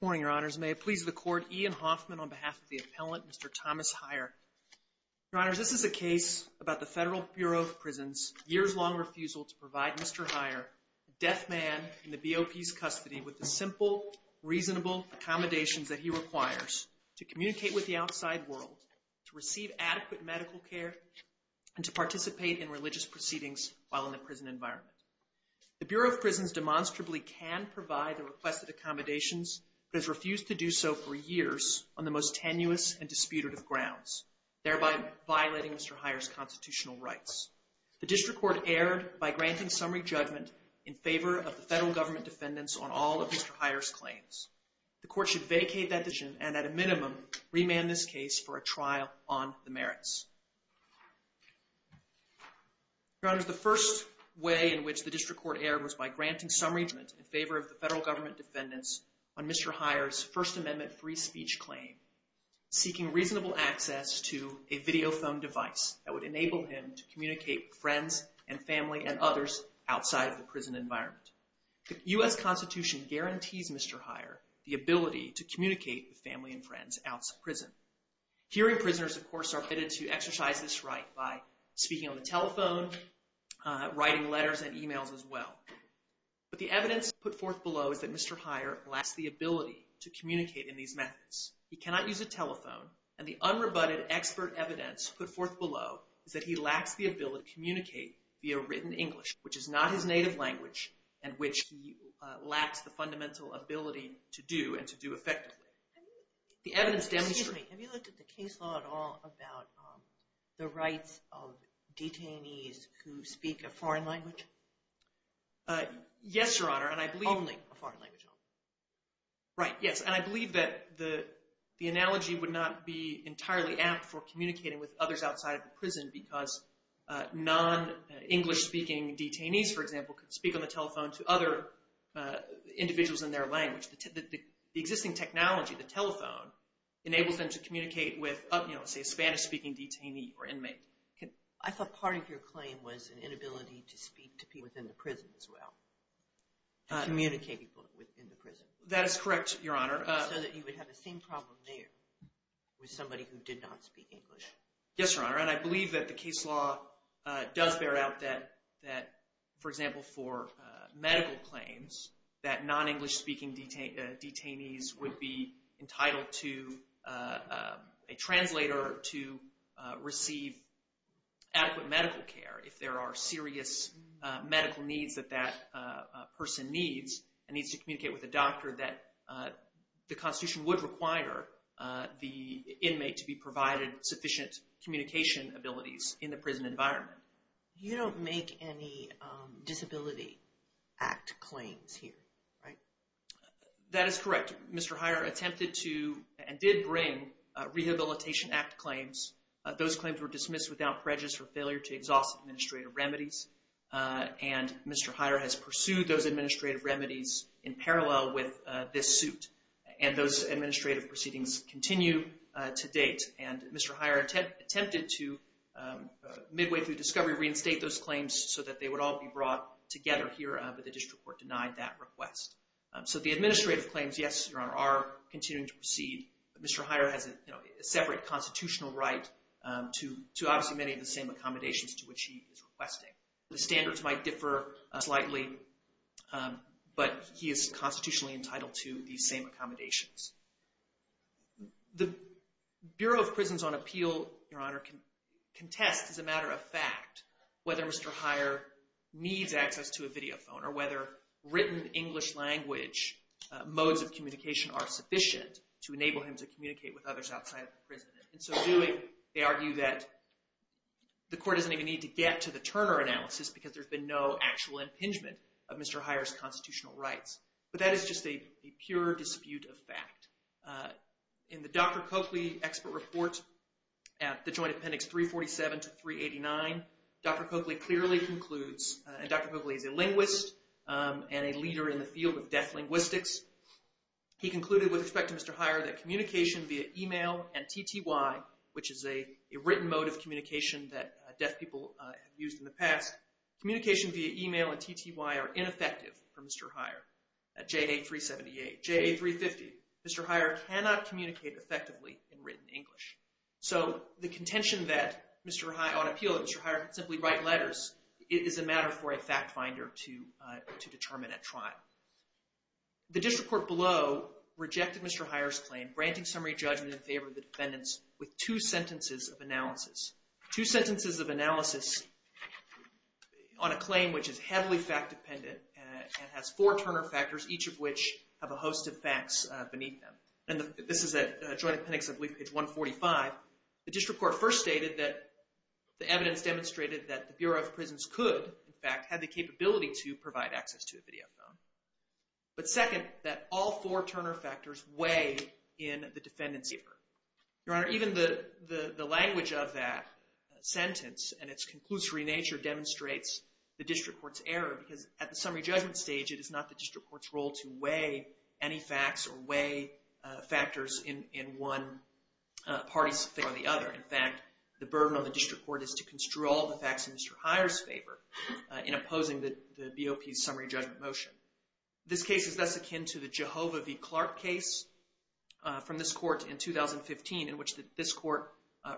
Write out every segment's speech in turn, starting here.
Good morning, Your Honors. May it please the Court, Ian Hoffman on behalf of the appellant, Mr. Thomas Heyer. Your Honors, this is a case about the Federal Bureau of Prisons' years-long refusal to provide Mr. Heyer, a deaf man in the BOP's custody, with the simple, reasonable accommodations that he requires to communicate with the outside world, to receive adequate medical care, and to participate in religious proceedings while in the prison environment. The Bureau of Prisons demonstrably can provide the requested accommodations, but has refused to do so for years on the most tenuous and disputative grounds, thereby violating Mr. Heyer's constitutional rights. The district court erred by granting summary judgment in favor of the federal government defendants on all of Mr. Heyer's claims. The court should vacate that decision and, at a minimum, remand this case for a trial on the merits. Your Honors, the first way in which the district court erred was by granting summary judgment in favor of the federal government defendants on Mr. Heyer's First Amendment free speech claim, seeking reasonable access to a video phone device that would enable him to communicate with friends and family and others outside of the prison environment. The U.S. Constitution guarantees Mr. Heyer the ability to communicate with family and friends outside of prison. Hearing prisoners, of course, are permitted to exercise this right by speaking on the telephone, writing letters and emails as well. But the evidence put forth below is that Mr. Heyer lacks the ability to communicate in these methods. He cannot use a telephone, and the unrebutted expert evidence put forth below is that he lacks the ability to communicate via written English, which is not his native language, and which he lacks the fundamental ability to do and to do effectively. Excuse me. Have you looked at the case law at all about the rights of detainees who speak a foreign language? Yes, Your Honor. Only a foreign language. Right. Yes. And I believe that the analogy would not be entirely apt for communicating with others outside of the prison because non-English speaking detainees, for example, could speak on the telephone to other individuals in their language. The existing technology, the telephone, enables them to communicate with, say, a Spanish speaking detainee or inmate. I thought part of your claim was an inability to speak to people in the prison as well, to communicate with people in the prison. That is correct, Your Honor. So that you would have the same problem there with somebody who did not speak English. Yes, Your Honor. And I believe that the case law does bear out that, for example, for medical claims, that non-English speaking detainees would be entitled to a translator to receive adequate medical care if there are serious medical needs that that person needs and needs to communicate with a doctor that the Constitution would require the inmate to be provided sufficient communication abilities in the prison environment. You don't make any Disability Act claims here, right? That is correct. Mr. Heyer attempted to and did bring Rehabilitation Act claims. Those claims were dismissed without prejudice for failure to exhaust administrative remedies. And Mr. Heyer has pursued those administrative remedies in parallel with this suit. And those administrative proceedings continue to date. And Mr. Heyer attempted to, midway through discovery, reinstate those claims so that they would all be brought together here. But the district court denied that request. So the administrative claims, yes, Your Honor, are continuing to proceed. Mr. Heyer has a separate constitutional right to obviously many of the same accommodations to which he is requesting. The standards might differ slightly, but he is constitutionally entitled to these same accommodations. The Bureau of Prisons on Appeal, Your Honor, can test as a matter of fact whether Mr. Heyer needs access to a videophone or whether written English language modes of communication are sufficient to enable him to communicate with others outside the prison. And so doing, they argue that the court doesn't even need to get to the Turner analysis because there's been no actual impingement of Mr. Heyer's constitutional rights. But that is just a pure dispute of fact. In the Dr. Coakley expert report at the Joint Appendix 347 to 389, Dr. Coakley clearly concludes, and Dr. Coakley is a linguist and a leader in the field of deaf linguistics, he concluded with respect to Mr. Heyer that communication via e-mail and TTY, which is a written mode of communication that deaf people have used in the past, communication via e-mail and TTY are ineffective for Mr. Heyer at JA 378. JA 350, Mr. Heyer cannot communicate effectively in written English. So the contention that Mr. Heyer, on appeal, that Mr. Heyer can simply write letters is a matter for a fact finder to determine at trial. The district court below rejected Mr. Heyer's claim, granting summary judgment in favor of the defendants with two sentences of analysis. Two sentences of analysis on a claim which is heavily fact dependent and has four Turner factors, each of which have a host of facts beneath them. And this is at Joint Appendix, I believe, page 145. The district court first stated that the evidence demonstrated that the Bureau of Prisons could, in fact, have the capability to provide access to a video phone. But second, that all four Turner factors weigh in the defendants' effort. Your Honor, even the language of that sentence and its conclusory nature demonstrates the district court's error because at the summary judgment stage, it is not the district court's role to weigh any facts or weigh factors in one party's favor or the other. In fact, the burden on the district court is to construe all the facts in Mr. Heyer's favor in opposing the BOP's summary judgment motion. This case is thus akin to the Jehovah v. Clark case from this court in 2015, in which this court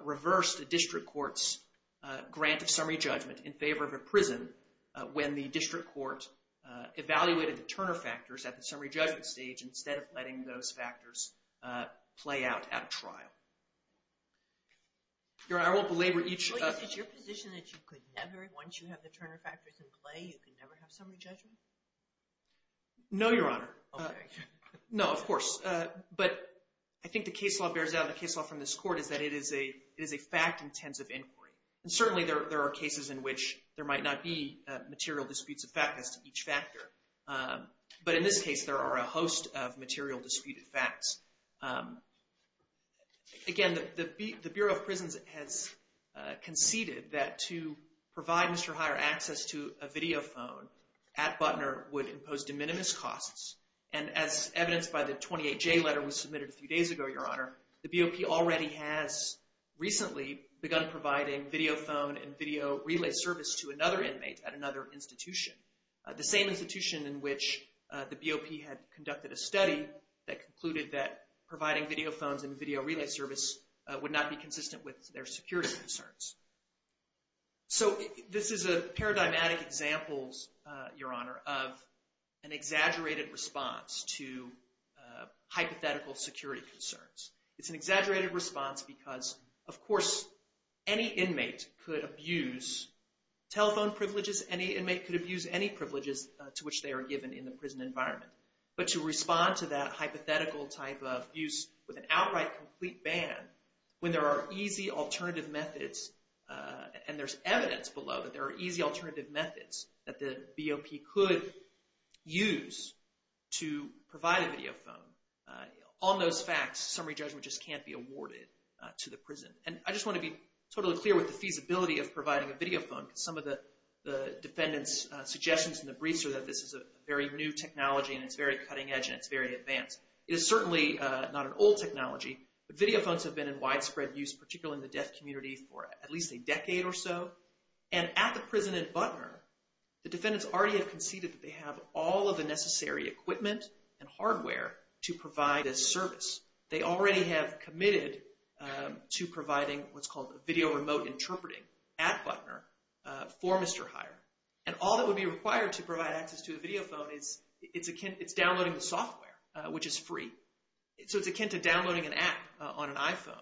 reversed the district court's grant of summary judgment in favor of a prison when the district court evaluated the Turner factors at the summary judgment stage instead of letting those factors play out at a trial. Your Honor, I won't belabor each— Wait, is it your position that you could never, once you have the Turner factors in play, you could never have summary judgment? No, Your Honor. Okay. No, of course. But I think the case law bears out, the case law from this court, is that it is a fact-intensive inquiry. And certainly, there are cases in which there might not be material disputes of fact as to each factor. But in this case, there are a host of material disputed facts. Again, the Bureau of Prisons has conceded that to provide Mr. Heyer access to a video phone at Butner would impose de minimis costs. And as evidenced by the 28J letter we submitted a few days ago, Your Honor, the BOP already has recently begun providing video phone and video relay service to another inmate at another institution, the same institution in which the BOP had conducted a study that concluded that providing video phones and video relay service would not be consistent with their security concerns. So this is a paradigmatic example, Your Honor, of an exaggerated response to hypothetical security concerns. It's an exaggerated response because, of course, any inmate could abuse telephone privileges. Any inmate could abuse any privileges to which they are given in the prison environment. But to respond to that hypothetical type of abuse with an outright complete ban when there are easy alternative methods, and there's evidence below that there are easy alternative methods that the BOP could use to provide a video phone, on those facts, summary judgment just can't be awarded to the prison. And I just want to be totally clear with the feasibility of providing a video phone because some of the defendants' suggestions in the briefs are that this is a very new technology, and it's very cutting edge, and it's very advanced. It is certainly not an old technology, but video phones have been in widespread use, particularly in the deaf community, for at least a decade or so. And at the prison in Butner, the defendants already have conceded that they have all of the necessary equipment and hardware to provide this service. They already have committed to providing what's called video remote interpreting at Butner for Mr. Heyer. And all that would be required to provide access to a video phone is it's downloading the software, which is free. So it's akin to downloading an app on an iPhone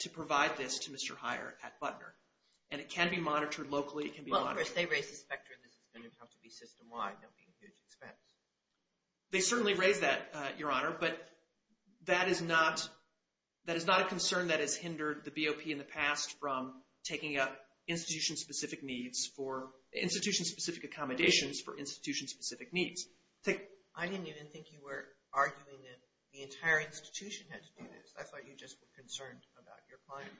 to provide this to Mr. Heyer at Butner. And it can be monitored locally. It can be monitored. Well, of course, they raise the spectrum. This is going to have to be system wide. That would be a huge expense. They certainly raise that, Your Honor, but that is not a concern that has hindered the BOP in the past from taking up institution-specific needs for institution-specific accommodations for institution-specific needs. I didn't even think you were arguing that the entire institution had to do this. I thought you just were concerned about your client.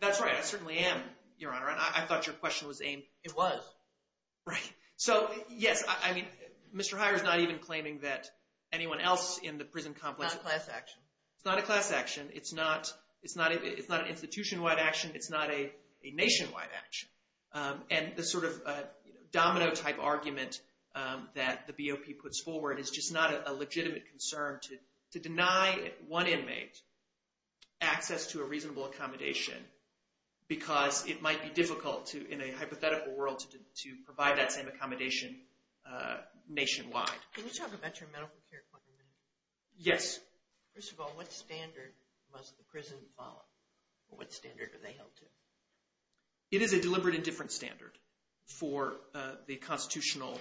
That's right. I certainly am, Your Honor, and I thought your question was aimed— It was. Right. So, yes, I mean, Mr. Heyer is not even claiming that anyone else in the prison complex— It's not a class action. It's not a class action. It's not an institution-wide action. It's not a nationwide action. And the sort of domino-type argument that the BOP puts forward is just not a legitimate concern to deny one inmate access to a reasonable accommodation because it might be difficult to, in a hypothetical world, to provide that same accommodation nationwide. Can you talk about your medical care claim? Yes. First of all, what standard must the prison follow? What standard are they held to? It is a deliberate and different standard for the constitutional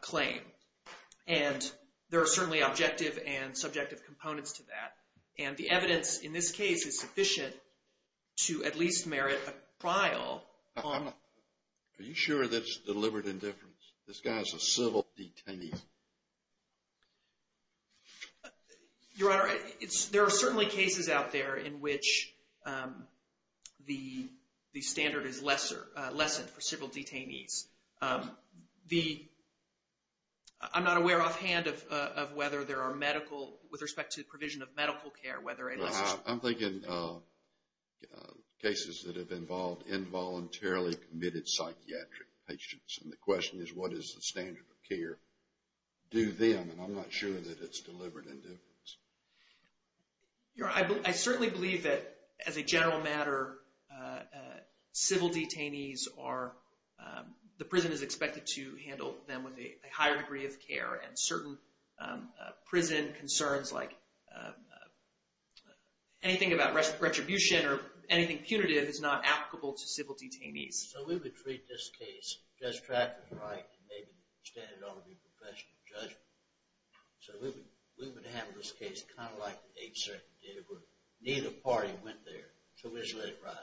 claim, and there are certainly objective and subjective components to that, and the evidence in this case is sufficient to at least merit a trial. Are you sure that it's deliberate and different? This guy is a civil detainee. Your Honor, there are certainly cases out there in which the standard is lessened for civil detainees. I'm not aware offhand of whether there are medical, with respect to the provision of medical care, whether it is. I'm thinking cases that have involved involuntarily committed psychiatric patients, and the question is what is the standard of care? Do them, and I'm not sure that it's deliberate and different. Your Honor, I certainly believe that, as a general matter, civil detainees are, the prison is expected to handle them with a higher degree of care, and certain prison concerns like anything about retribution or anything punitive is not applicable to civil detainees. So we would treat this case, just track and write, and maybe the standard ought to be professional judgment. So we would have this case kind of like the 8th Circuit did, where neither party went there, so we just let it ride.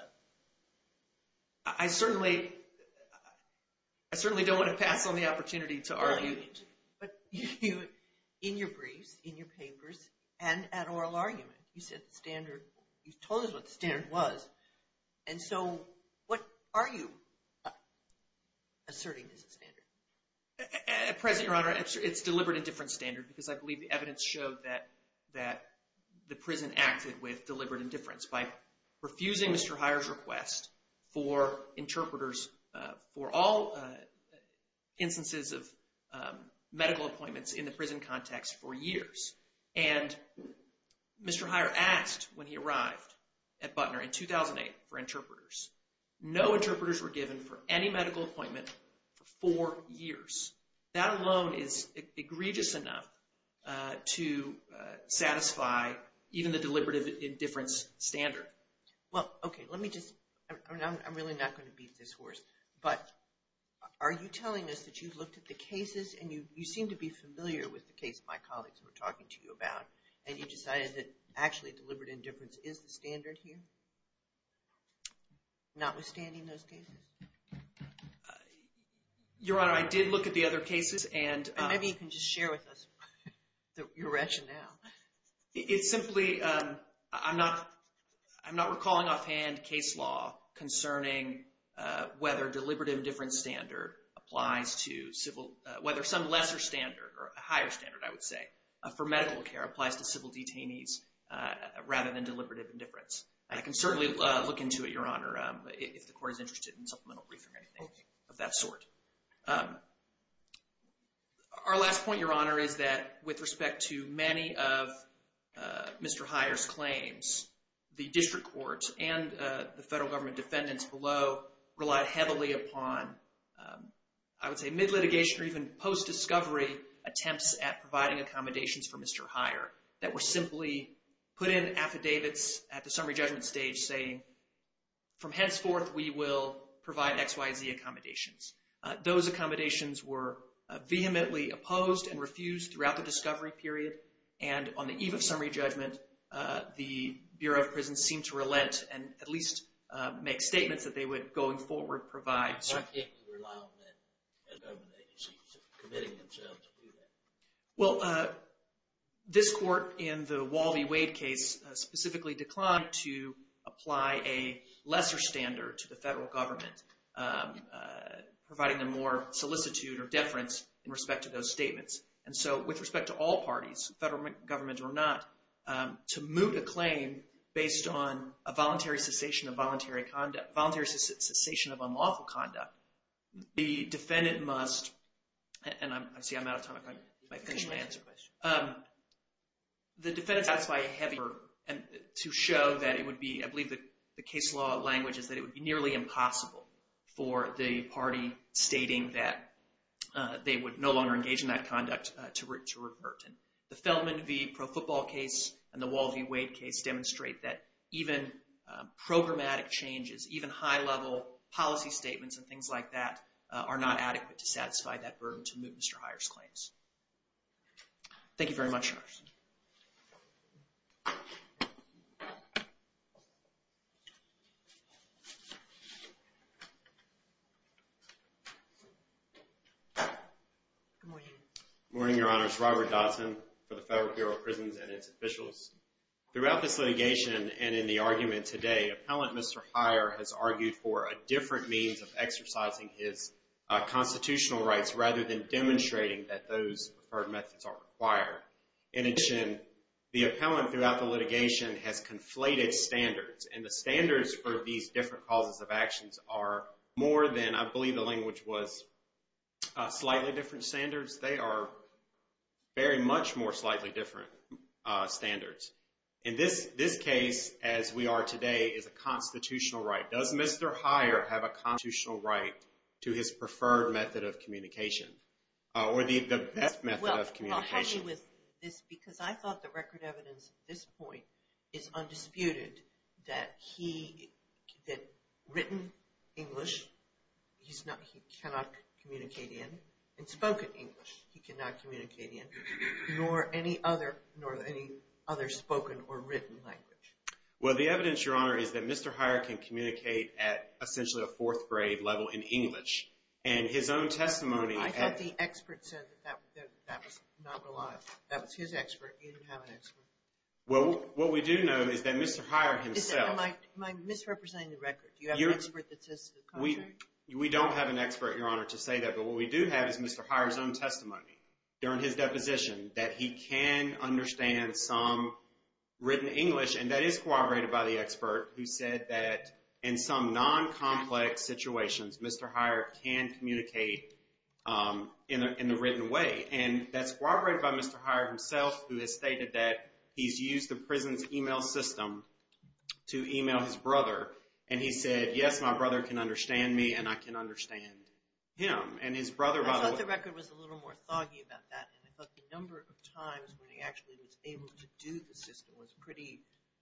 I certainly don't want to pass on the opportunity to argue, but in your briefs, in your papers, and at oral argument, you said the standard, you told us what the standard was, and so what are you asserting is the standard? At present, Your Honor, it's deliberate and different standard, because I believe the evidence showed that the prison acted with deliberate indifference by refusing Mr. Heyer's request for interpreters for all instances of medical appointments in the prison context for years. And Mr. Heyer asked, when he arrived at Butner in 2008 for interpreters, no interpreters were given for any medical appointment for four years. That alone is egregious enough to satisfy even the deliberate indifference standard. Well, okay, let me just, I'm really not going to beat this horse, but are you telling us that you've looked at the cases, and you seem to be familiar with the case my colleagues were talking to you about, and you decided that actually deliberate indifference is the standard here? Notwithstanding those cases? Your Honor, I did look at the other cases, and- Maybe you can just share with us your rationale. It's simply, I'm not recalling offhand case law concerning whether deliberate indifference standard applies to civil, whether some lesser standard, or a higher standard, I would say, for medical care applies to civil detainees, rather than deliberate indifference. I can certainly look into it, Your Honor, if the Court is interested in supplemental briefing or anything of that sort. Our last point, Your Honor, is that with respect to many of Mr. Heyer's claims, the district court and the federal government defendants below relied heavily upon, I would say mid-litigation or even post-discovery attempts at providing accommodations for Mr. Heyer that were simply put in affidavits at the summary judgment stage saying, from henceforth, we will provide X, Y, Z accommodations. Those accommodations were vehemently opposed and refused throughout the discovery period, and on the eve of summary judgment, the Bureau of Prisons seemed to relent and at least make statements that they would, going forward, provide- Why can't they rely on the federal government agencies committing themselves to do that? Well, this court in the Walby-Wade case specifically declined to apply a lesser standard to the federal government, providing them more solicitude or deference in respect to those statements. And so, with respect to all parties, federal government or not, to moot a claim based on a voluntary cessation of unlawful conduct, the defendant must- See, I'm out of time. I might finish my answer question. The defendants- To show that it would be, I believe the case law language is that it would be nearly impossible for the party stating that they would no longer engage in that conduct to revert. The Feldman v. Pro Football case and the Walby-Wade case demonstrate that even programmatic changes, even high-level policy statements and things like that, are not adequate to satisfy that burden to moot Mr. Heyer's claims. Thank you very much. Good morning. Good morning, Your Honors. Robert Dodson for the Federal Bureau of Prisons and its officials. Throughout this litigation and in the argument today, appellant Mr. Heyer has argued for a different means of exercising his constitutional rights rather than demonstrating that those preferred methods are required. In addition, the appellant throughout the litigation has conflated standards. And the standards for these different causes of actions are more than, I believe the language was slightly different standards. They are very much more slightly different standards. In this case, as we are today, is a constitutional right. Does Mr. Heyer have a constitutional right to his preferred method of communication or the best method of communication? Well, help me with this because I thought the record evidence at this point is undisputed that written English he cannot communicate in and spoken English he cannot communicate in, nor any other spoken or written language. Well, the evidence, Your Honor, is that Mr. Heyer can communicate at essentially a fourth grade level in English. And his own testimony… I thought the expert said that was not reliable. Well, what we do know is that Mr. Heyer himself… Am I misrepresenting the record? Do you have an expert that says the contrary? We don't have an expert, Your Honor, to say that. But what we do have is Mr. Heyer's own testimony during his deposition that he can understand some written English, and that is corroborated by the expert who said that in some non-complex situations, Mr. Heyer can communicate in a written way. And that's corroborated by Mr. Heyer himself who has stated that he's used the prison's email system to email his brother. And he said, yes, my brother can understand me, and I can understand him. And his brother, by the way… I thought the record was a little more foggy about that, and I thought the number of times when he actually was able to do the system was pretty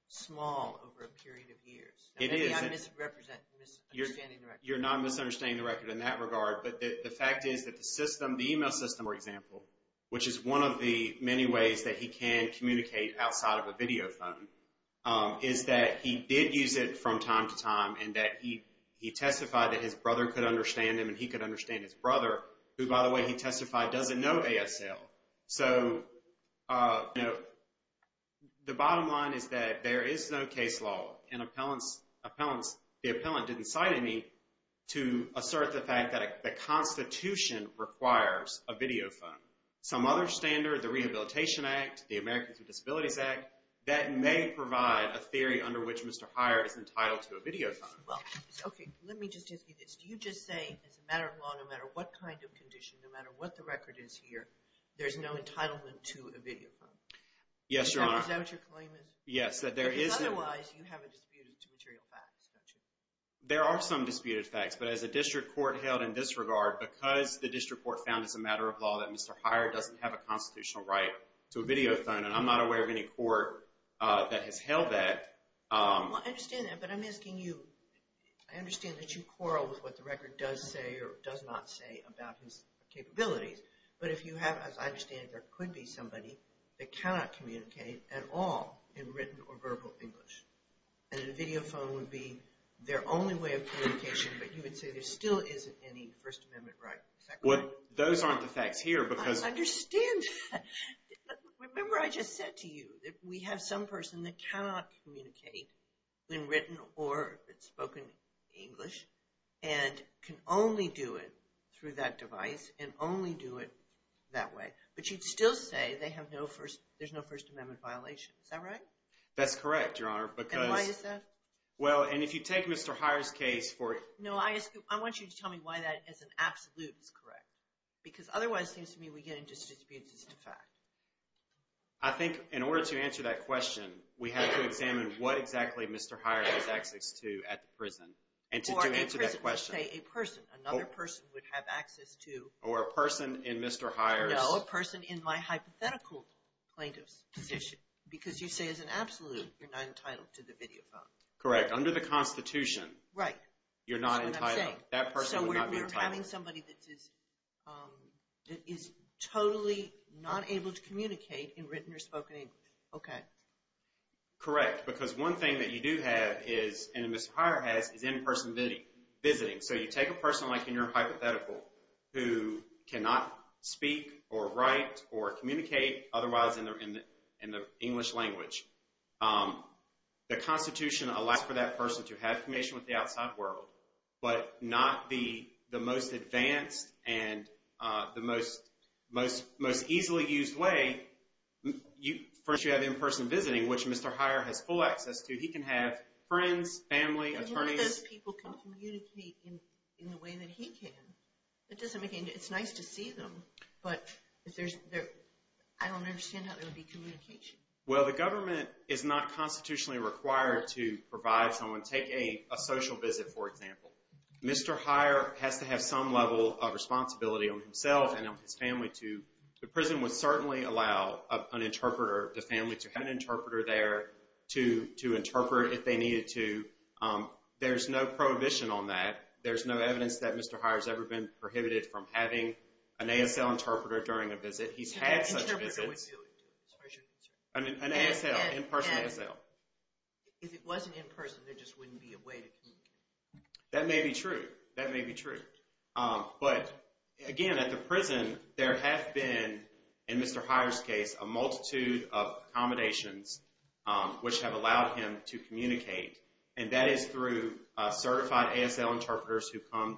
small over a period of years. It is. Maybe I'm misrepresenting, misunderstanding the record. You're not misunderstanding the record in that regard. But the fact is that the system, the email system, for example, which is one of the many ways that he can communicate outside of a video phone, is that he did use it from time to time and that he testified that his brother could understand him and he could understand his brother, who, by the way, he testified doesn't know ASL. So, you know, the bottom line is that there is no case law, and the appellant didn't cite any, to assert the fact that the Constitution requires a video phone. Some other standard, the Rehabilitation Act, the Americans with Disabilities Act, that may provide a theory under which Mr. Heyer is entitled to a video phone. Well, okay, let me just ask you this. Do you just say as a matter of law, no matter what kind of condition, no matter what the record is here, there's no entitlement to a video phone? Yes, Your Honor. Is that what your claim is? Yes. Because otherwise you have a dispute to material facts, don't you? There are some disputed facts, but as a district court held in this regard, because the district court found as a matter of law that Mr. Heyer doesn't have a constitutional right to a video phone, and I'm not aware of any court that has held that. Well, I understand that, but I'm asking you, I understand that you quarrel with what the record does say or does not say about his capabilities, but if you have, as I understand it, there could be somebody that cannot communicate at all in written or verbal English, and a video phone would be their only way of communication, but you would say there still isn't any First Amendment right. Well, those aren't the facts here because... I understand. Remember I just said to you that we have some person that cannot communicate in written or spoken English and can only do it through that device and only do it that way, but you'd still say there's no First Amendment violation. Is that right? That's correct, Your Honor, because... And why is that? Well, and if you take Mr. Heyer's case for... No, I want you to tell me why that as an absolute is correct, because otherwise it seems to me we get into disputes as to fact. I think in order to answer that question, we have to examine what exactly Mr. Heyer has access to at the prison. And to answer that question... Or a person, let's say a person, another person would have access to... Or a person in Mr. Heyer's... No, a person in my hypothetical plaintiff's position, because you say as an absolute you're not entitled to the video phone. Correct. Under the Constitution... Right. You're not entitled. That's what I'm saying. That person would not be entitled. So we're having somebody that is totally not able to communicate in written or spoken English. Okay. Correct, because one thing that you do have is, and Mr. Heyer has, is in-person visiting. So you take a person like in your hypothetical who cannot speak or write or communicate otherwise in the English language. The Constitution allows for that person to have communication with the outside world, but not the most advanced and the most easily used way. First, you have in-person visiting, which Mr. Heyer has full access to. He can have friends, family, attorneys... But none of those people can communicate in the way that he can. It doesn't make any... It's nice to see them, but I don't understand how there would be communication. Well, the government is not constitutionally required to provide someone... Mr. Heyer has to have some level of responsibility on himself and on his family to... The prison would certainly allow an interpreter, the family to have an interpreter there to interpret if they needed to. There's no prohibition on that. There's no evidence that Mr. Heyer has ever been prohibited from having an ASL interpreter during a visit. He's had such visits. An interpreter would do it, as far as you're concerned. An ASL, in-person ASL. If it wasn't in-person, there just wouldn't be a way to communicate. That may be true. That may be true. But, again, at the prison, there have been, in Mr. Heyer's case, a multitude of accommodations which have allowed him to communicate. And that is through certified ASL interpreters who come...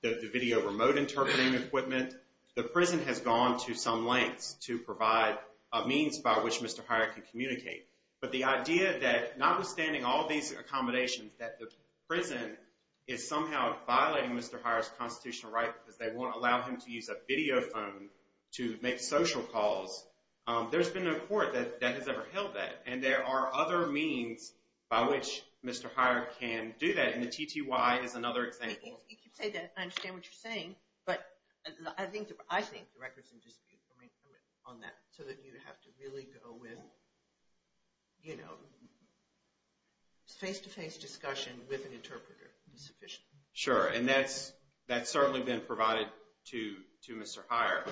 The video remote interpreting equipment. The prison has gone to some lengths to provide a means by which Mr. Heyer can communicate. But the idea that, notwithstanding all these accommodations, that the prison is somehow violating Mr. Heyer's constitutional right because they won't allow him to use a video phone to make social calls, there's been no court that has ever held that. And there are other means by which Mr. Heyer can do that. And the TTY is another example. You keep saying that. I understand what you're saying. But I think the record's in dispute on that, so that you have to really go with face-to-face discussion with an interpreter is sufficient. Sure. And that's certainly been provided to Mr. Heyer.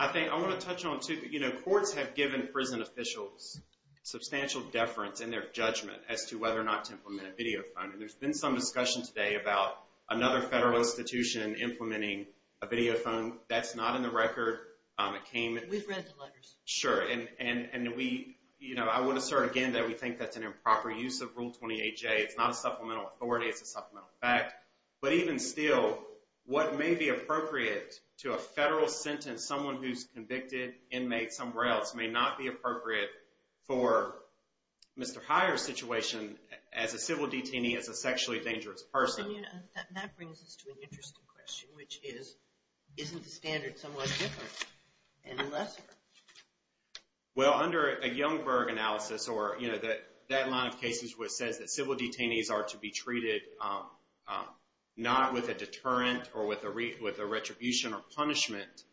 I want to touch on, too, that courts have given prison officials substantial deference in their judgment as to whether or not to implement a video phone. There's been some discussion today about another federal institution implementing a video phone. That's not in the record. We've read the letters. Sure. And I would assert again that we think that's an improper use of Rule 28J. It's not a supplemental authority. It's a supplemental fact. But even still, what may be appropriate to a federal sentence, someone who's convicted, inmate, somewhere else, may not be appropriate for Mr. Heyer's situation as a civil detainee, as a sexually dangerous person. And that brings us to an interesting question, which is, isn't the standard somewhat different and lesser? Well, under a Youngberg analysis, or that line of cases where it says that civil detainees are to be treated not with a deterrent or with a retribution or punishment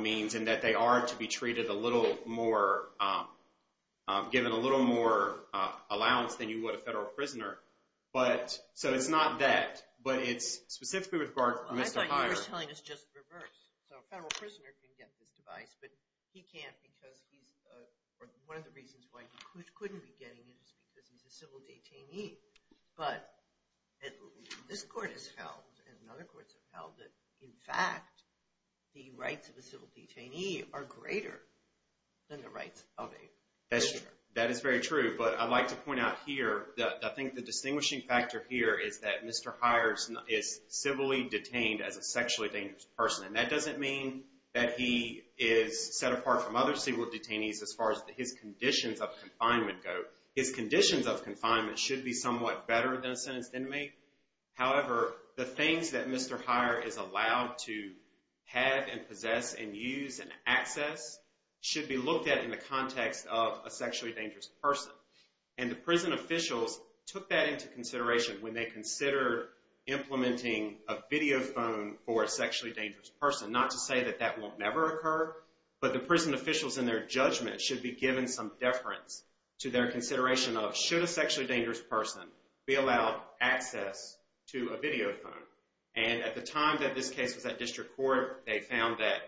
means, and that they are to be treated a little more, given a little more allowance than you would a federal prisoner. So it's not that, but it's specifically with regard to Mr. Heyer. I thought you were telling us just the reverse. So a federal prisoner can get this device, but he can't because he's – or one of the reasons why he couldn't be getting it is because he's a civil detainee. But this court has held and other courts have held that, in fact, the rights of a civil detainee are greater than the rights of a prisoner. That is very true. But I'd like to point out here that I think the distinguishing factor here is that Mr. Heyer is civilly detained as a sexually dangerous person. And that doesn't mean that he is set apart from other civil detainees as far as his conditions of confinement go. His conditions of confinement should be somewhat better than a sentenced inmate. However, the things that Mr. Heyer is allowed to have and possess and use and access should be looked at in the context of a sexually dangerous person. And the prison officials took that into consideration when they consider implementing a video phone for a sexually dangerous person. Not to say that that will never occur, but the prison officials in their judgment should be given some deference to their consideration of, should a sexually dangerous person be allowed access to a video phone? And at the time that this case was at district court, they found that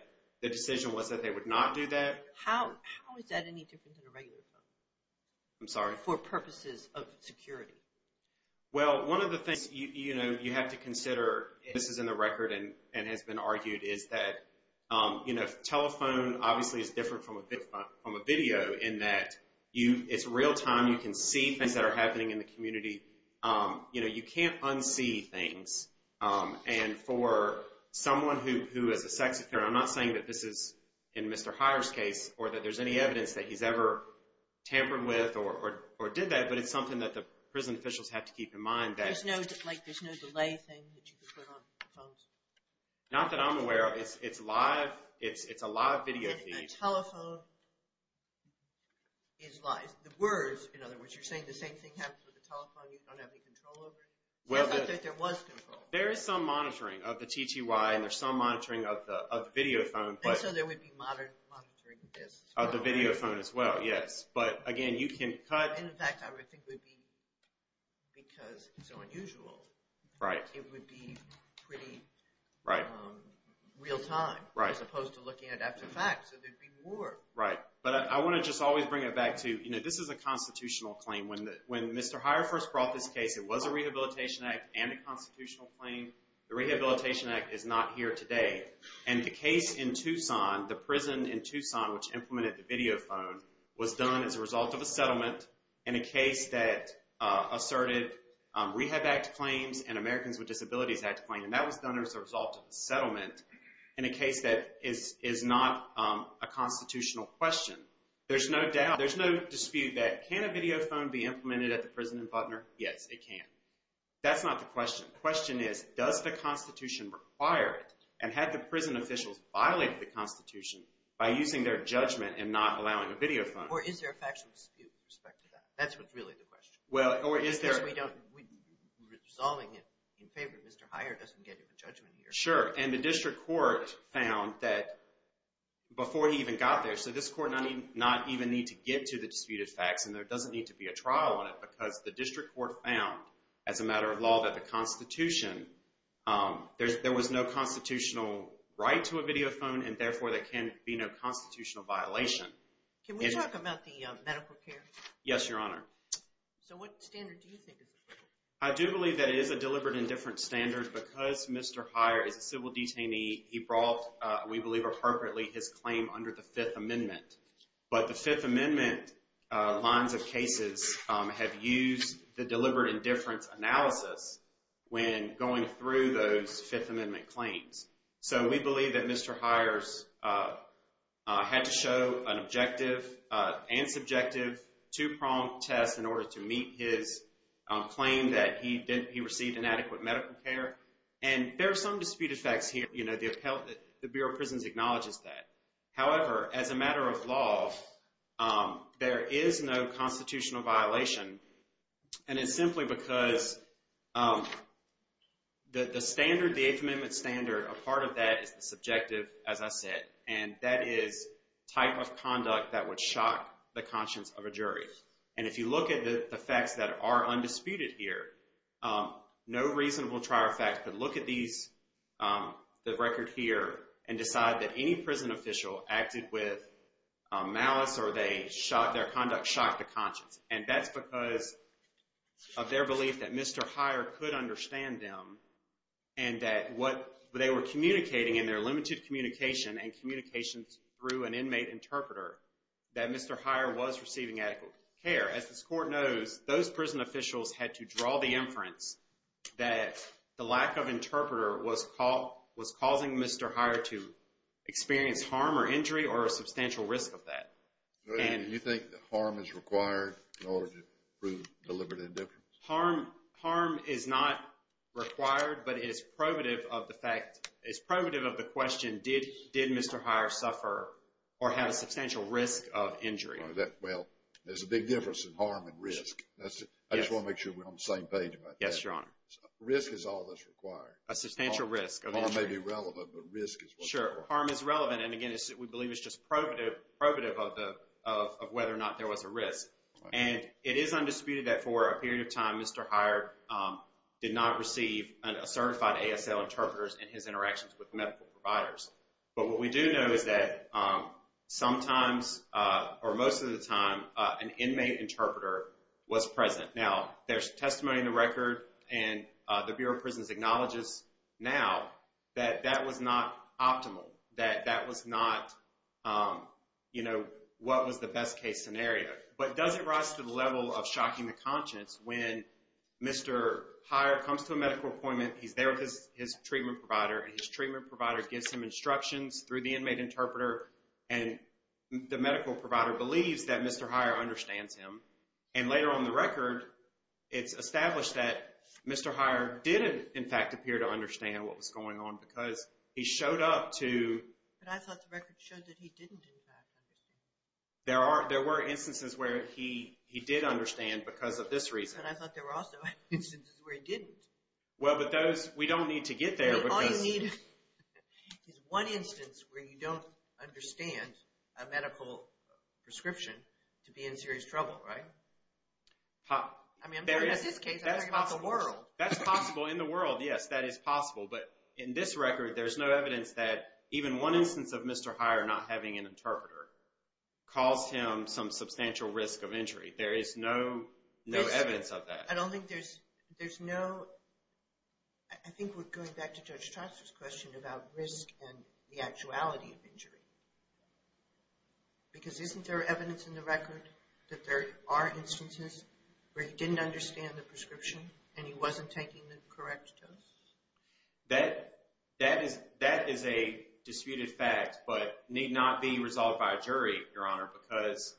the decision was that they would not do that. How is that any different than a regular phone? I'm sorry? For purposes of security. Well, one of the things you have to consider, and this is in the record and has been argued, is that telephone obviously is different from a video in that it's real time. You can see things that are happening in the community. You know, you can't unsee things. And for someone who is a sex offender, I'm not saying that this is in Mr. Heyer's case, or that there's any evidence that he's ever tampered with or did that, but it's something that the prison officials have to keep in mind. There's no delay thing that you can put on phones? Not that I'm aware of. It's live. It's a live video feed. A telephone is live. The words, in other words, you're saying the same thing happens with a telephone. You don't have any control over it? It's not that there was control. There is some monitoring of the TTY, and there's some monitoring of the video phone. And so there would be monitoring of this. Of the video phone as well, yes. But, again, you can cut. In fact, I would think it would be because it's so unusual. Right. It would be pretty real-time as opposed to looking at after facts. So there would be more. Right. But I want to just always bring it back to, you know, this is a constitutional claim. When Mr. Heyer first brought this case, it was a Rehabilitation Act and a constitutional claim. The Rehabilitation Act is not here today. And the case in Tucson, the prison in Tucson which implemented the video phone, was done as a result of a settlement in a case that asserted Rehab Act claims and Americans with Disabilities Act claims. And that was done as a result of a settlement in a case that is not a constitutional question. There's no dispute that can a video phone be implemented at the prison in Butner? Yes, it can. That's not the question. The question is, does the Constitution require it? And had the prison officials violated the Constitution by using their judgment and not allowing a video phone? Or is there a factual dispute with respect to that? That's what's really the question. Well, or is there? Because we don't, resolving it in favor of Mr. Heyer doesn't get him a judgment here. Sure. And the district court found that before he even got there, so this court not even need to get to the disputed facts and there doesn't need to be a trial on it because the district court found as a matter of law that the Constitution, there was no constitutional right to a video phone and therefore there can be no constitutional violation. Can we talk about the medical care? Yes, Your Honor. So what standard do you think it is? I do believe that it is a deliberate indifference standard because Mr. Heyer is a civil detainee. He brought, we believe appropriately, his claim under the Fifth Amendment. But the Fifth Amendment lines of cases have used the deliberate indifference analysis when going through those Fifth Amendment claims. So we believe that Mr. Heyer had to show an objective and subjective two-pronged test in order to meet his claim that he received inadequate medical care. And there are some disputed facts here. The Bureau of Prisons acknowledges that. However, as a matter of law, there is no constitutional violation. And it's simply because the standard, the Eighth Amendment standard, a part of that is the subjective, as I said, and that is type of conduct that would shock the conscience of a jury. And if you look at the facts that are undisputed here, no reasonable trial fact could look at these, the record here, and decide that any prison official acted with malice or their conduct shocked the conscience. And that's because of their belief that Mr. Heyer could understand them and that what they were communicating in their limited communication and communications through an inmate interpreter, that Mr. Heyer was receiving adequate care. As this Court knows, those prison officials had to draw the inference that the lack of interpreter was causing Mr. Heyer to experience harm or injury or a substantial risk of that. Do you think that harm is required in order to prove deliberate indifference? Harm is not required, but it is probative of the fact, it's probative of the question, did Mr. Heyer suffer or have a substantial risk of injury? Well, there's a big difference in harm and risk. I just want to make sure we're on the same page about that. Yes, Your Honor. Risk is all that's required. Harm may be relevant, but risk is what's required. Sure, harm is relevant. And again, we believe it's just probative of whether or not there was a risk. And it is undisputed that for a period of time, Mr. Heyer did not receive certified ASL interpreters in his interactions with medical providers. But what we do know is that sometimes, or most of the time, an inmate interpreter was present. Now, there's testimony in the record, and the Bureau of Prisons acknowledges now that that was not optimal, that that was not, you know, what was the best case scenario. But does it rise to the level of shocking the conscience when Mr. Heyer comes to a medical appointment, he's there with his treatment provider, and his treatment provider gives him instructions through the inmate interpreter, and the medical provider believes that Mr. Heyer understands him. And later on the record, it's established that Mr. Heyer didn't, in fact, appear to understand what was going on because he showed up to... But I thought the record showed that he didn't, in fact, understand. There were instances where he did understand because of this reason. But I thought there were also instances where he didn't. Well, but those, we don't need to get there because... All you need is one instance where you don't understand a medical prescription to be in serious trouble, right? I mean, I'm talking about this case, I'm talking about the world. That's possible in the world, yes, that is possible. But in this record, there's no evidence that even one instance of Mr. Heyer not having an interpreter caused him some substantial risk of injury. There is no evidence of that. I don't think there's, there's no... I think we're going back to Judge Trostler's question about risk and the actuality of injury. Because isn't there evidence in the record that there are instances where he didn't understand the prescription and he wasn't taking the correct dose? That is a disputed fact but need not be resolved by a jury, Your Honor, because,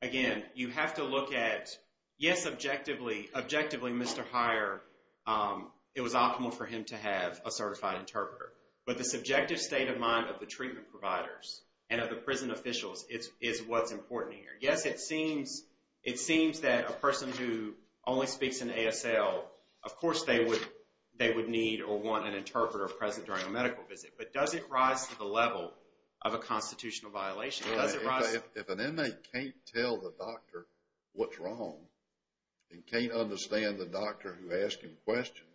again, you have to look at, yes, objectively, Mr. Heyer, it was optimal for him to have a certified interpreter. But the subjective state of mind of the treatment providers and of the prison officials is what's important here. Yes, it seems that a person who only speaks in ASL, of course they would need or want an interpreter present during a medical visit. But does it rise to the level of a constitutional violation? If an inmate can't tell the doctor what's wrong and can't understand the doctor who asked him questions,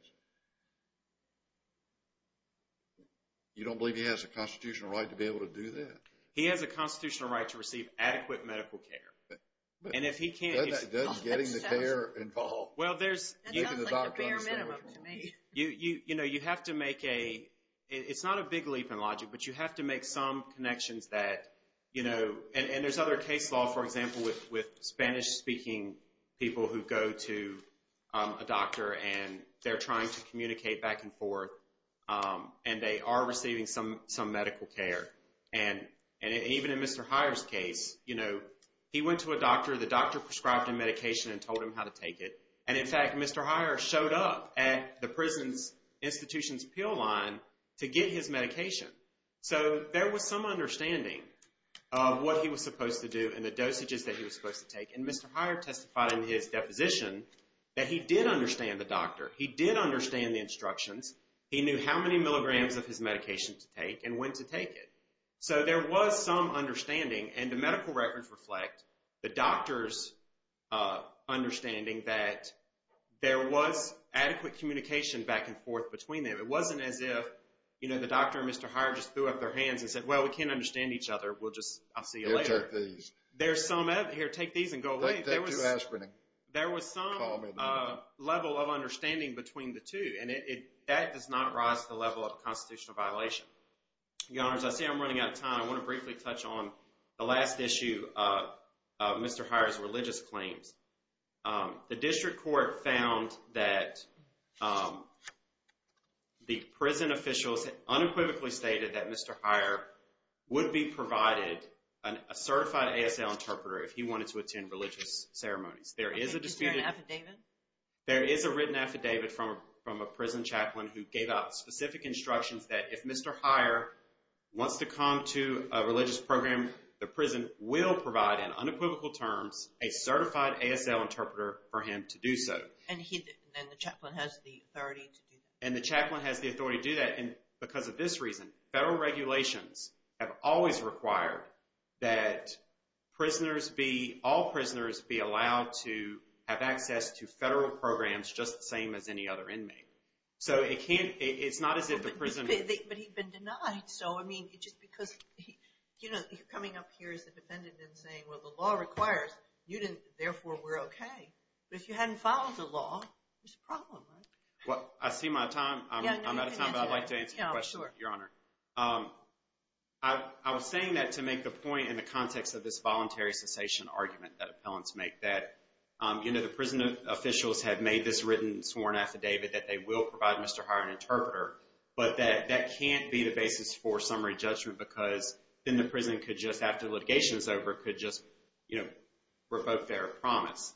you don't believe he has a constitutional right to be able to do that? He has a constitutional right to receive adequate medical care. And if he can't... That's getting the care involved. Well, there's... That sounds like the bare minimum to me. You know, you have to make a, it's not a big leap in logic, but you have to make some connections that, you know, and there's other case law, for example, with Spanish-speaking people who go to a doctor and they're trying to communicate back and forth and they are receiving some medical care. And even in Mr. Heyer's case, you know, he went to a doctor. The doctor prescribed him medication and told him how to take it. And, in fact, Mr. Heyer showed up at the prison institution's pill line to get his medication. So there was some understanding of what he was supposed to do and the dosages that he was supposed to take. And Mr. Heyer testified in his deposition that he did understand the doctor. He did understand the instructions. He knew how many milligrams of his medication to take and when to take it. So there was some understanding. And the medical records reflect the doctor's understanding that there was adequate communication back and forth between them. It wasn't as if, you know, the doctor and Mr. Heyer just threw up their hands and said, well, we can't understand each other. We'll just, I'll see you later. Here, take these. And go away. Take two aspirin. There was some level of understanding between the two. And that does not rise to the level of a constitutional violation. Your Honors, I see I'm running out of time. I want to briefly touch on the last issue of Mr. Heyer's religious claims. The district court found that the prison officials unequivocally stated that Mr. Heyer would be provided a certified ASL interpreter if he wanted to attend religious ceremonies. Is there an affidavit? There is a written affidavit from a prison chaplain who gave out specific instructions that if Mr. Heyer wants to come to a religious program, the prison will provide in unequivocal terms a certified ASL interpreter for him to do so. And the chaplain has the authority to do that? And the chaplain has the authority to do that. And because of this reason, federal regulations have always required that all prisoners be allowed to have access to federal programs just the same as any other inmate. So it's not as if the prison— But he'd been denied. So, I mean, just because, you know, you're coming up here as a defendant and saying, well, the law requires. Therefore, we're okay. But if you hadn't followed the law, there's a problem, right? Well, I see my time. I'm out of time, but I'd like to answer the question, Your Honor. I was saying that to make the point in the context of this voluntary cessation argument that appellants make, that, you know, the prison officials have made this written sworn affidavit that they will provide Mr. Heyer an interpreter, but that that can't be the basis for summary judgment because then the prison could just, after litigation is over, could just, you know, revoke their promise.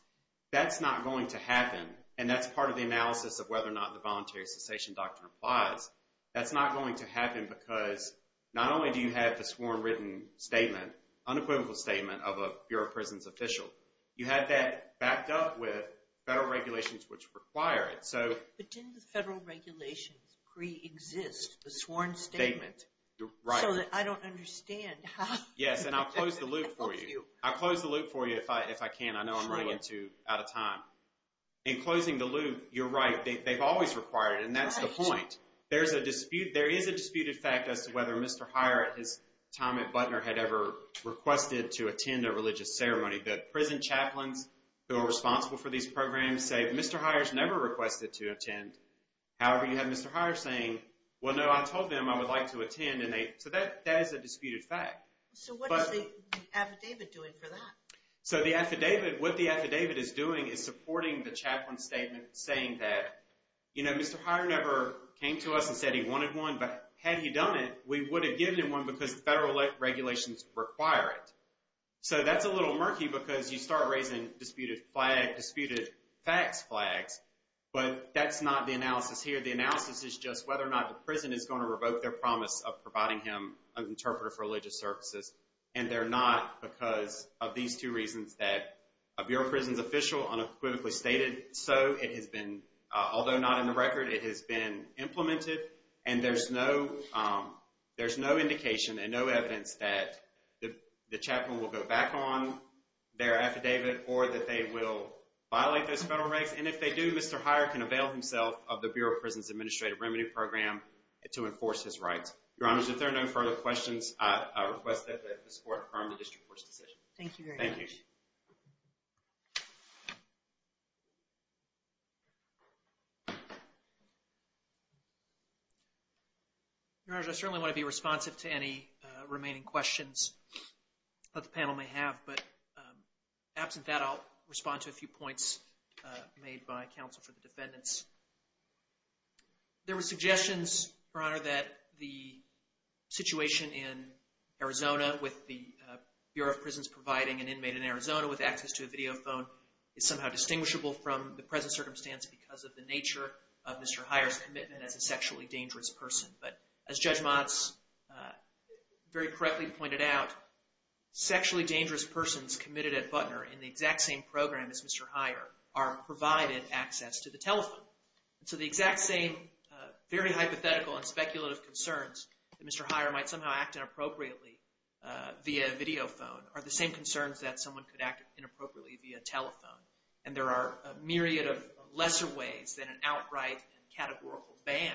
That's not going to happen, and that's part of the analysis of whether or not the voluntary cessation doctrine applies. That's not going to happen because not only do you have the sworn written statement, unequivocal statement of a Bureau of Prisons official, you have that backed up with federal regulations which require it. But didn't the federal regulations pre-exist the sworn statement? Right. So that I don't understand how. Yes, and I'll close the loop for you. I'll close the loop for you if I can. I know I'm running out of time. In closing the loop, you're right. They've always required it, and that's the point. There is a disputed fact as to whether Mr. Heyer at his time at Butner had ever requested to attend a religious ceremony. The prison chaplains who are responsible for these programs say, Mr. Heyer's never requested to attend. However, you have Mr. Heyer saying, well, no, I told them I would like to attend. So that is a disputed fact. So what is the affidavit doing for that? So the affidavit, what the affidavit is doing is supporting the chaplain's statement saying that, you know, Mr. Heyer never came to us and said he wanted one, but had he done it, we would have given him one because the federal regulations require it. So that's a little murky because you start raising disputed facts flags, but that's not the analysis here. The analysis is just whether or not the prison is going to revoke their promise of providing him an interpreter for religious services, and they're not because of these two reasons that a bureau of prisons official unequivocally stated so. It has been, although not in the record, it has been implemented, and there's no indication and no evidence that the chaplain will go back on their affidavit or that they will violate those federal regs. And if they do, Mr. Heyer can avail himself of the Bureau of Prisons Administrative Remedy Program to enforce his rights. Your Honors, if there are no further questions, I request that this Court confirm the district court's decision. Thank you very much. Thank you. Your Honors, I certainly want to be responsive to any remaining questions that the panel may have, but absent that I'll respond to a few points made by counsel for the defendants. There were suggestions, Your Honor, that the situation in Arizona with the Bureau of Prisons providing an inmate in Arizona with access to a video phone is somehow distinguishable from the present circumstance because of the nature of Mr. Heyer's commitment as a sexually dangerous person. But as Judge Motz very correctly pointed out, sexually dangerous persons committed at Butner in the exact same program as Mr. Heyer are provided access to the telephone. And so the exact same very hypothetical and speculative concerns that Mr. Heyer might somehow act inappropriately via video phone are the same concerns that someone could act inappropriately via telephone. And there are a myriad of lesser ways than an outright categorical ban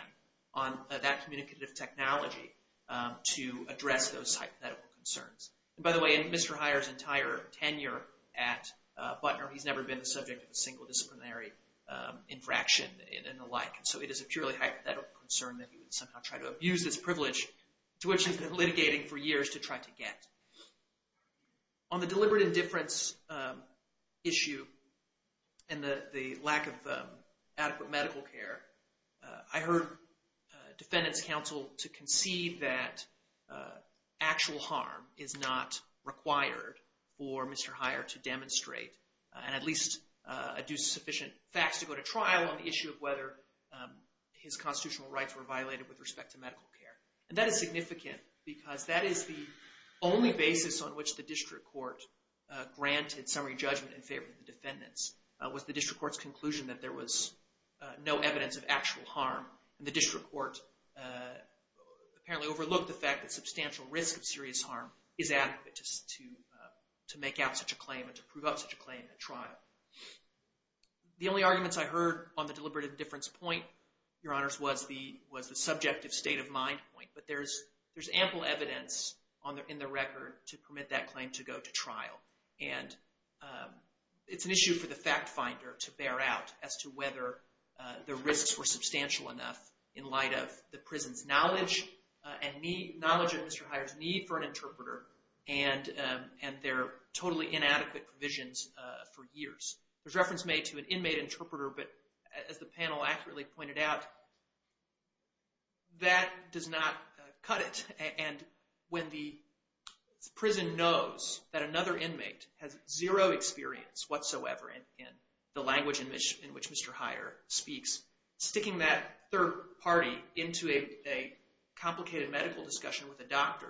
on that communicative technology to address those hypothetical concerns. And by the way, in Mr. Heyer's entire tenure at Butner, he's never been the subject of a single disciplinary infraction and the like. And so it is a purely hypothetical concern that he would somehow try to abuse this privilege to which he's been litigating for years to try to get. On the deliberate indifference issue and the lack of adequate medical care, I heard defendants' counsel to concede that actual harm is not required for Mr. Heyer to demonstrate and at least adduce sufficient facts to go to trial on the issue of whether his constitutional rights were violated with respect to medical care. And that is significant because that is the only basis on which the district court granted summary judgment in favor of the defendants was the district court's conclusion that there was no evidence of actual harm. And the district court apparently overlooked the fact that substantial risk of serious harm is adequate to make out such a claim and to prove out such a claim at trial. The only arguments I heard on the deliberate indifference point, Your Honors, was the subjective state of mind point. But there's ample evidence in the record to permit that claim to go to trial. And it's an issue for the fact finder to bear out as to whether the risks were substantial enough in light of the prison's knowledge and need, knowledge of Mr. Heyer's need for an interpreter and their totally inadequate provisions for years. There's reference made to an inmate interpreter, but as the panel accurately pointed out, that does not cut it. And when the prison knows that another inmate has zero experience whatsoever in the language in which Mr. Heyer speaks, sticking that third party into a complicated medical discussion with a doctor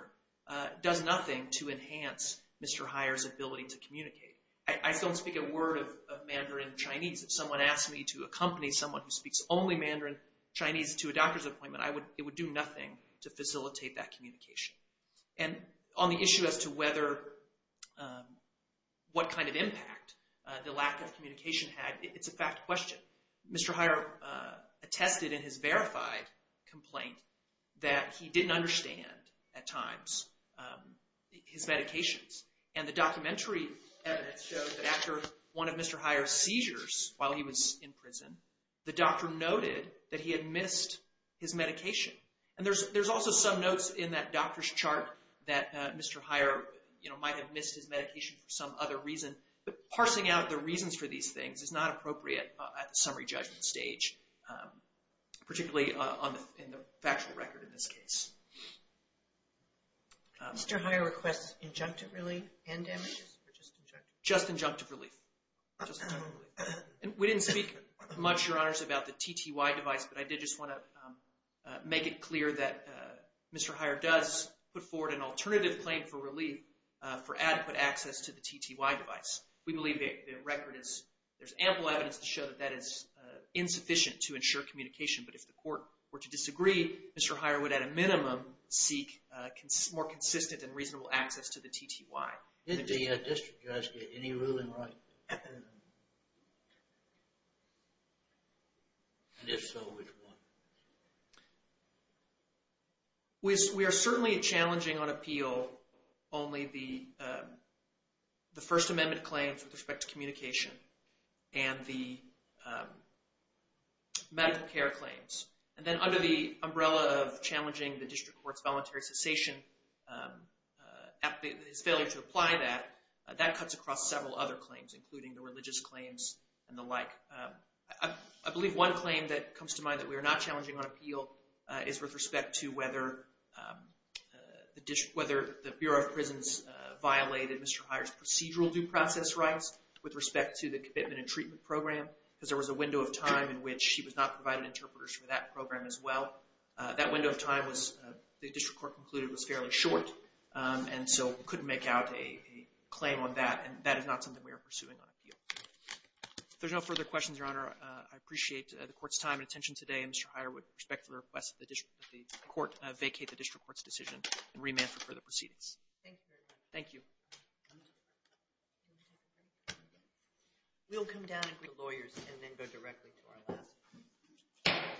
does nothing to enhance Mr. Heyer's ability to communicate. I don't speak a word of Mandarin Chinese. If someone asked me to accompany someone who speaks only Mandarin Chinese to a doctor's appointment, it would do nothing to facilitate that communication. And on the issue as to what kind of impact the lack of communication had, it's a fact question. Mr. Heyer attested in his verified complaint that he didn't understand, at times, his medications. And the documentary evidence shows that after one of Mr. Heyer's seizures while he was in prison, the doctor noted that he had missed his medication. And there's also some notes in that doctor's chart that Mr. Heyer might have missed his medication for some other reason, but parsing out the reasons for these things is not appropriate at the summary judgment stage, particularly in the factual record in this case. Mr. Heyer requests injunctive relief and damages or just injunctive? Just injunctive relief. We didn't speak much, Your Honors, about the TTY device, but I did just want to make it clear that Mr. Heyer does put forward an alternative claim for relief for adequate access to the TTY device. We believe the record is, there's ample evidence to show that that is insufficient to ensure communication. But if the court were to disagree, Mr. Heyer would, at a minimum, seek more consistent and reasonable access to the TTY. Did the district judge get any ruling right? And if so, which one? We are certainly challenging on appeal only the First Amendment claim with respect to communication and the medical care claims. And then under the umbrella of challenging the district court's voluntary cessation, his failure to apply that, that cuts across several other claims, including the religious claims and the like. I believe one claim that comes to mind that we are not challenging on appeal is with respect to whether the Bureau of Prisons violated Mr. Heyer's procedural due process rights with respect to the commitment and treatment program, because there was a window of time in which he was not provided interpreters for that program as well. That window of time, the district court concluded, was fairly short, and so couldn't make out a claim on that. And that is not something we are pursuing on appeal. If there's no further questions, Your Honor, I appreciate the court's time and attention today. Mr. Heyer, with respect to the request that the court vacate the district court's decision and remand for further proceedings. Thank you very much. Thank you. We'll come down and greet the lawyers and then go directly to our last panel.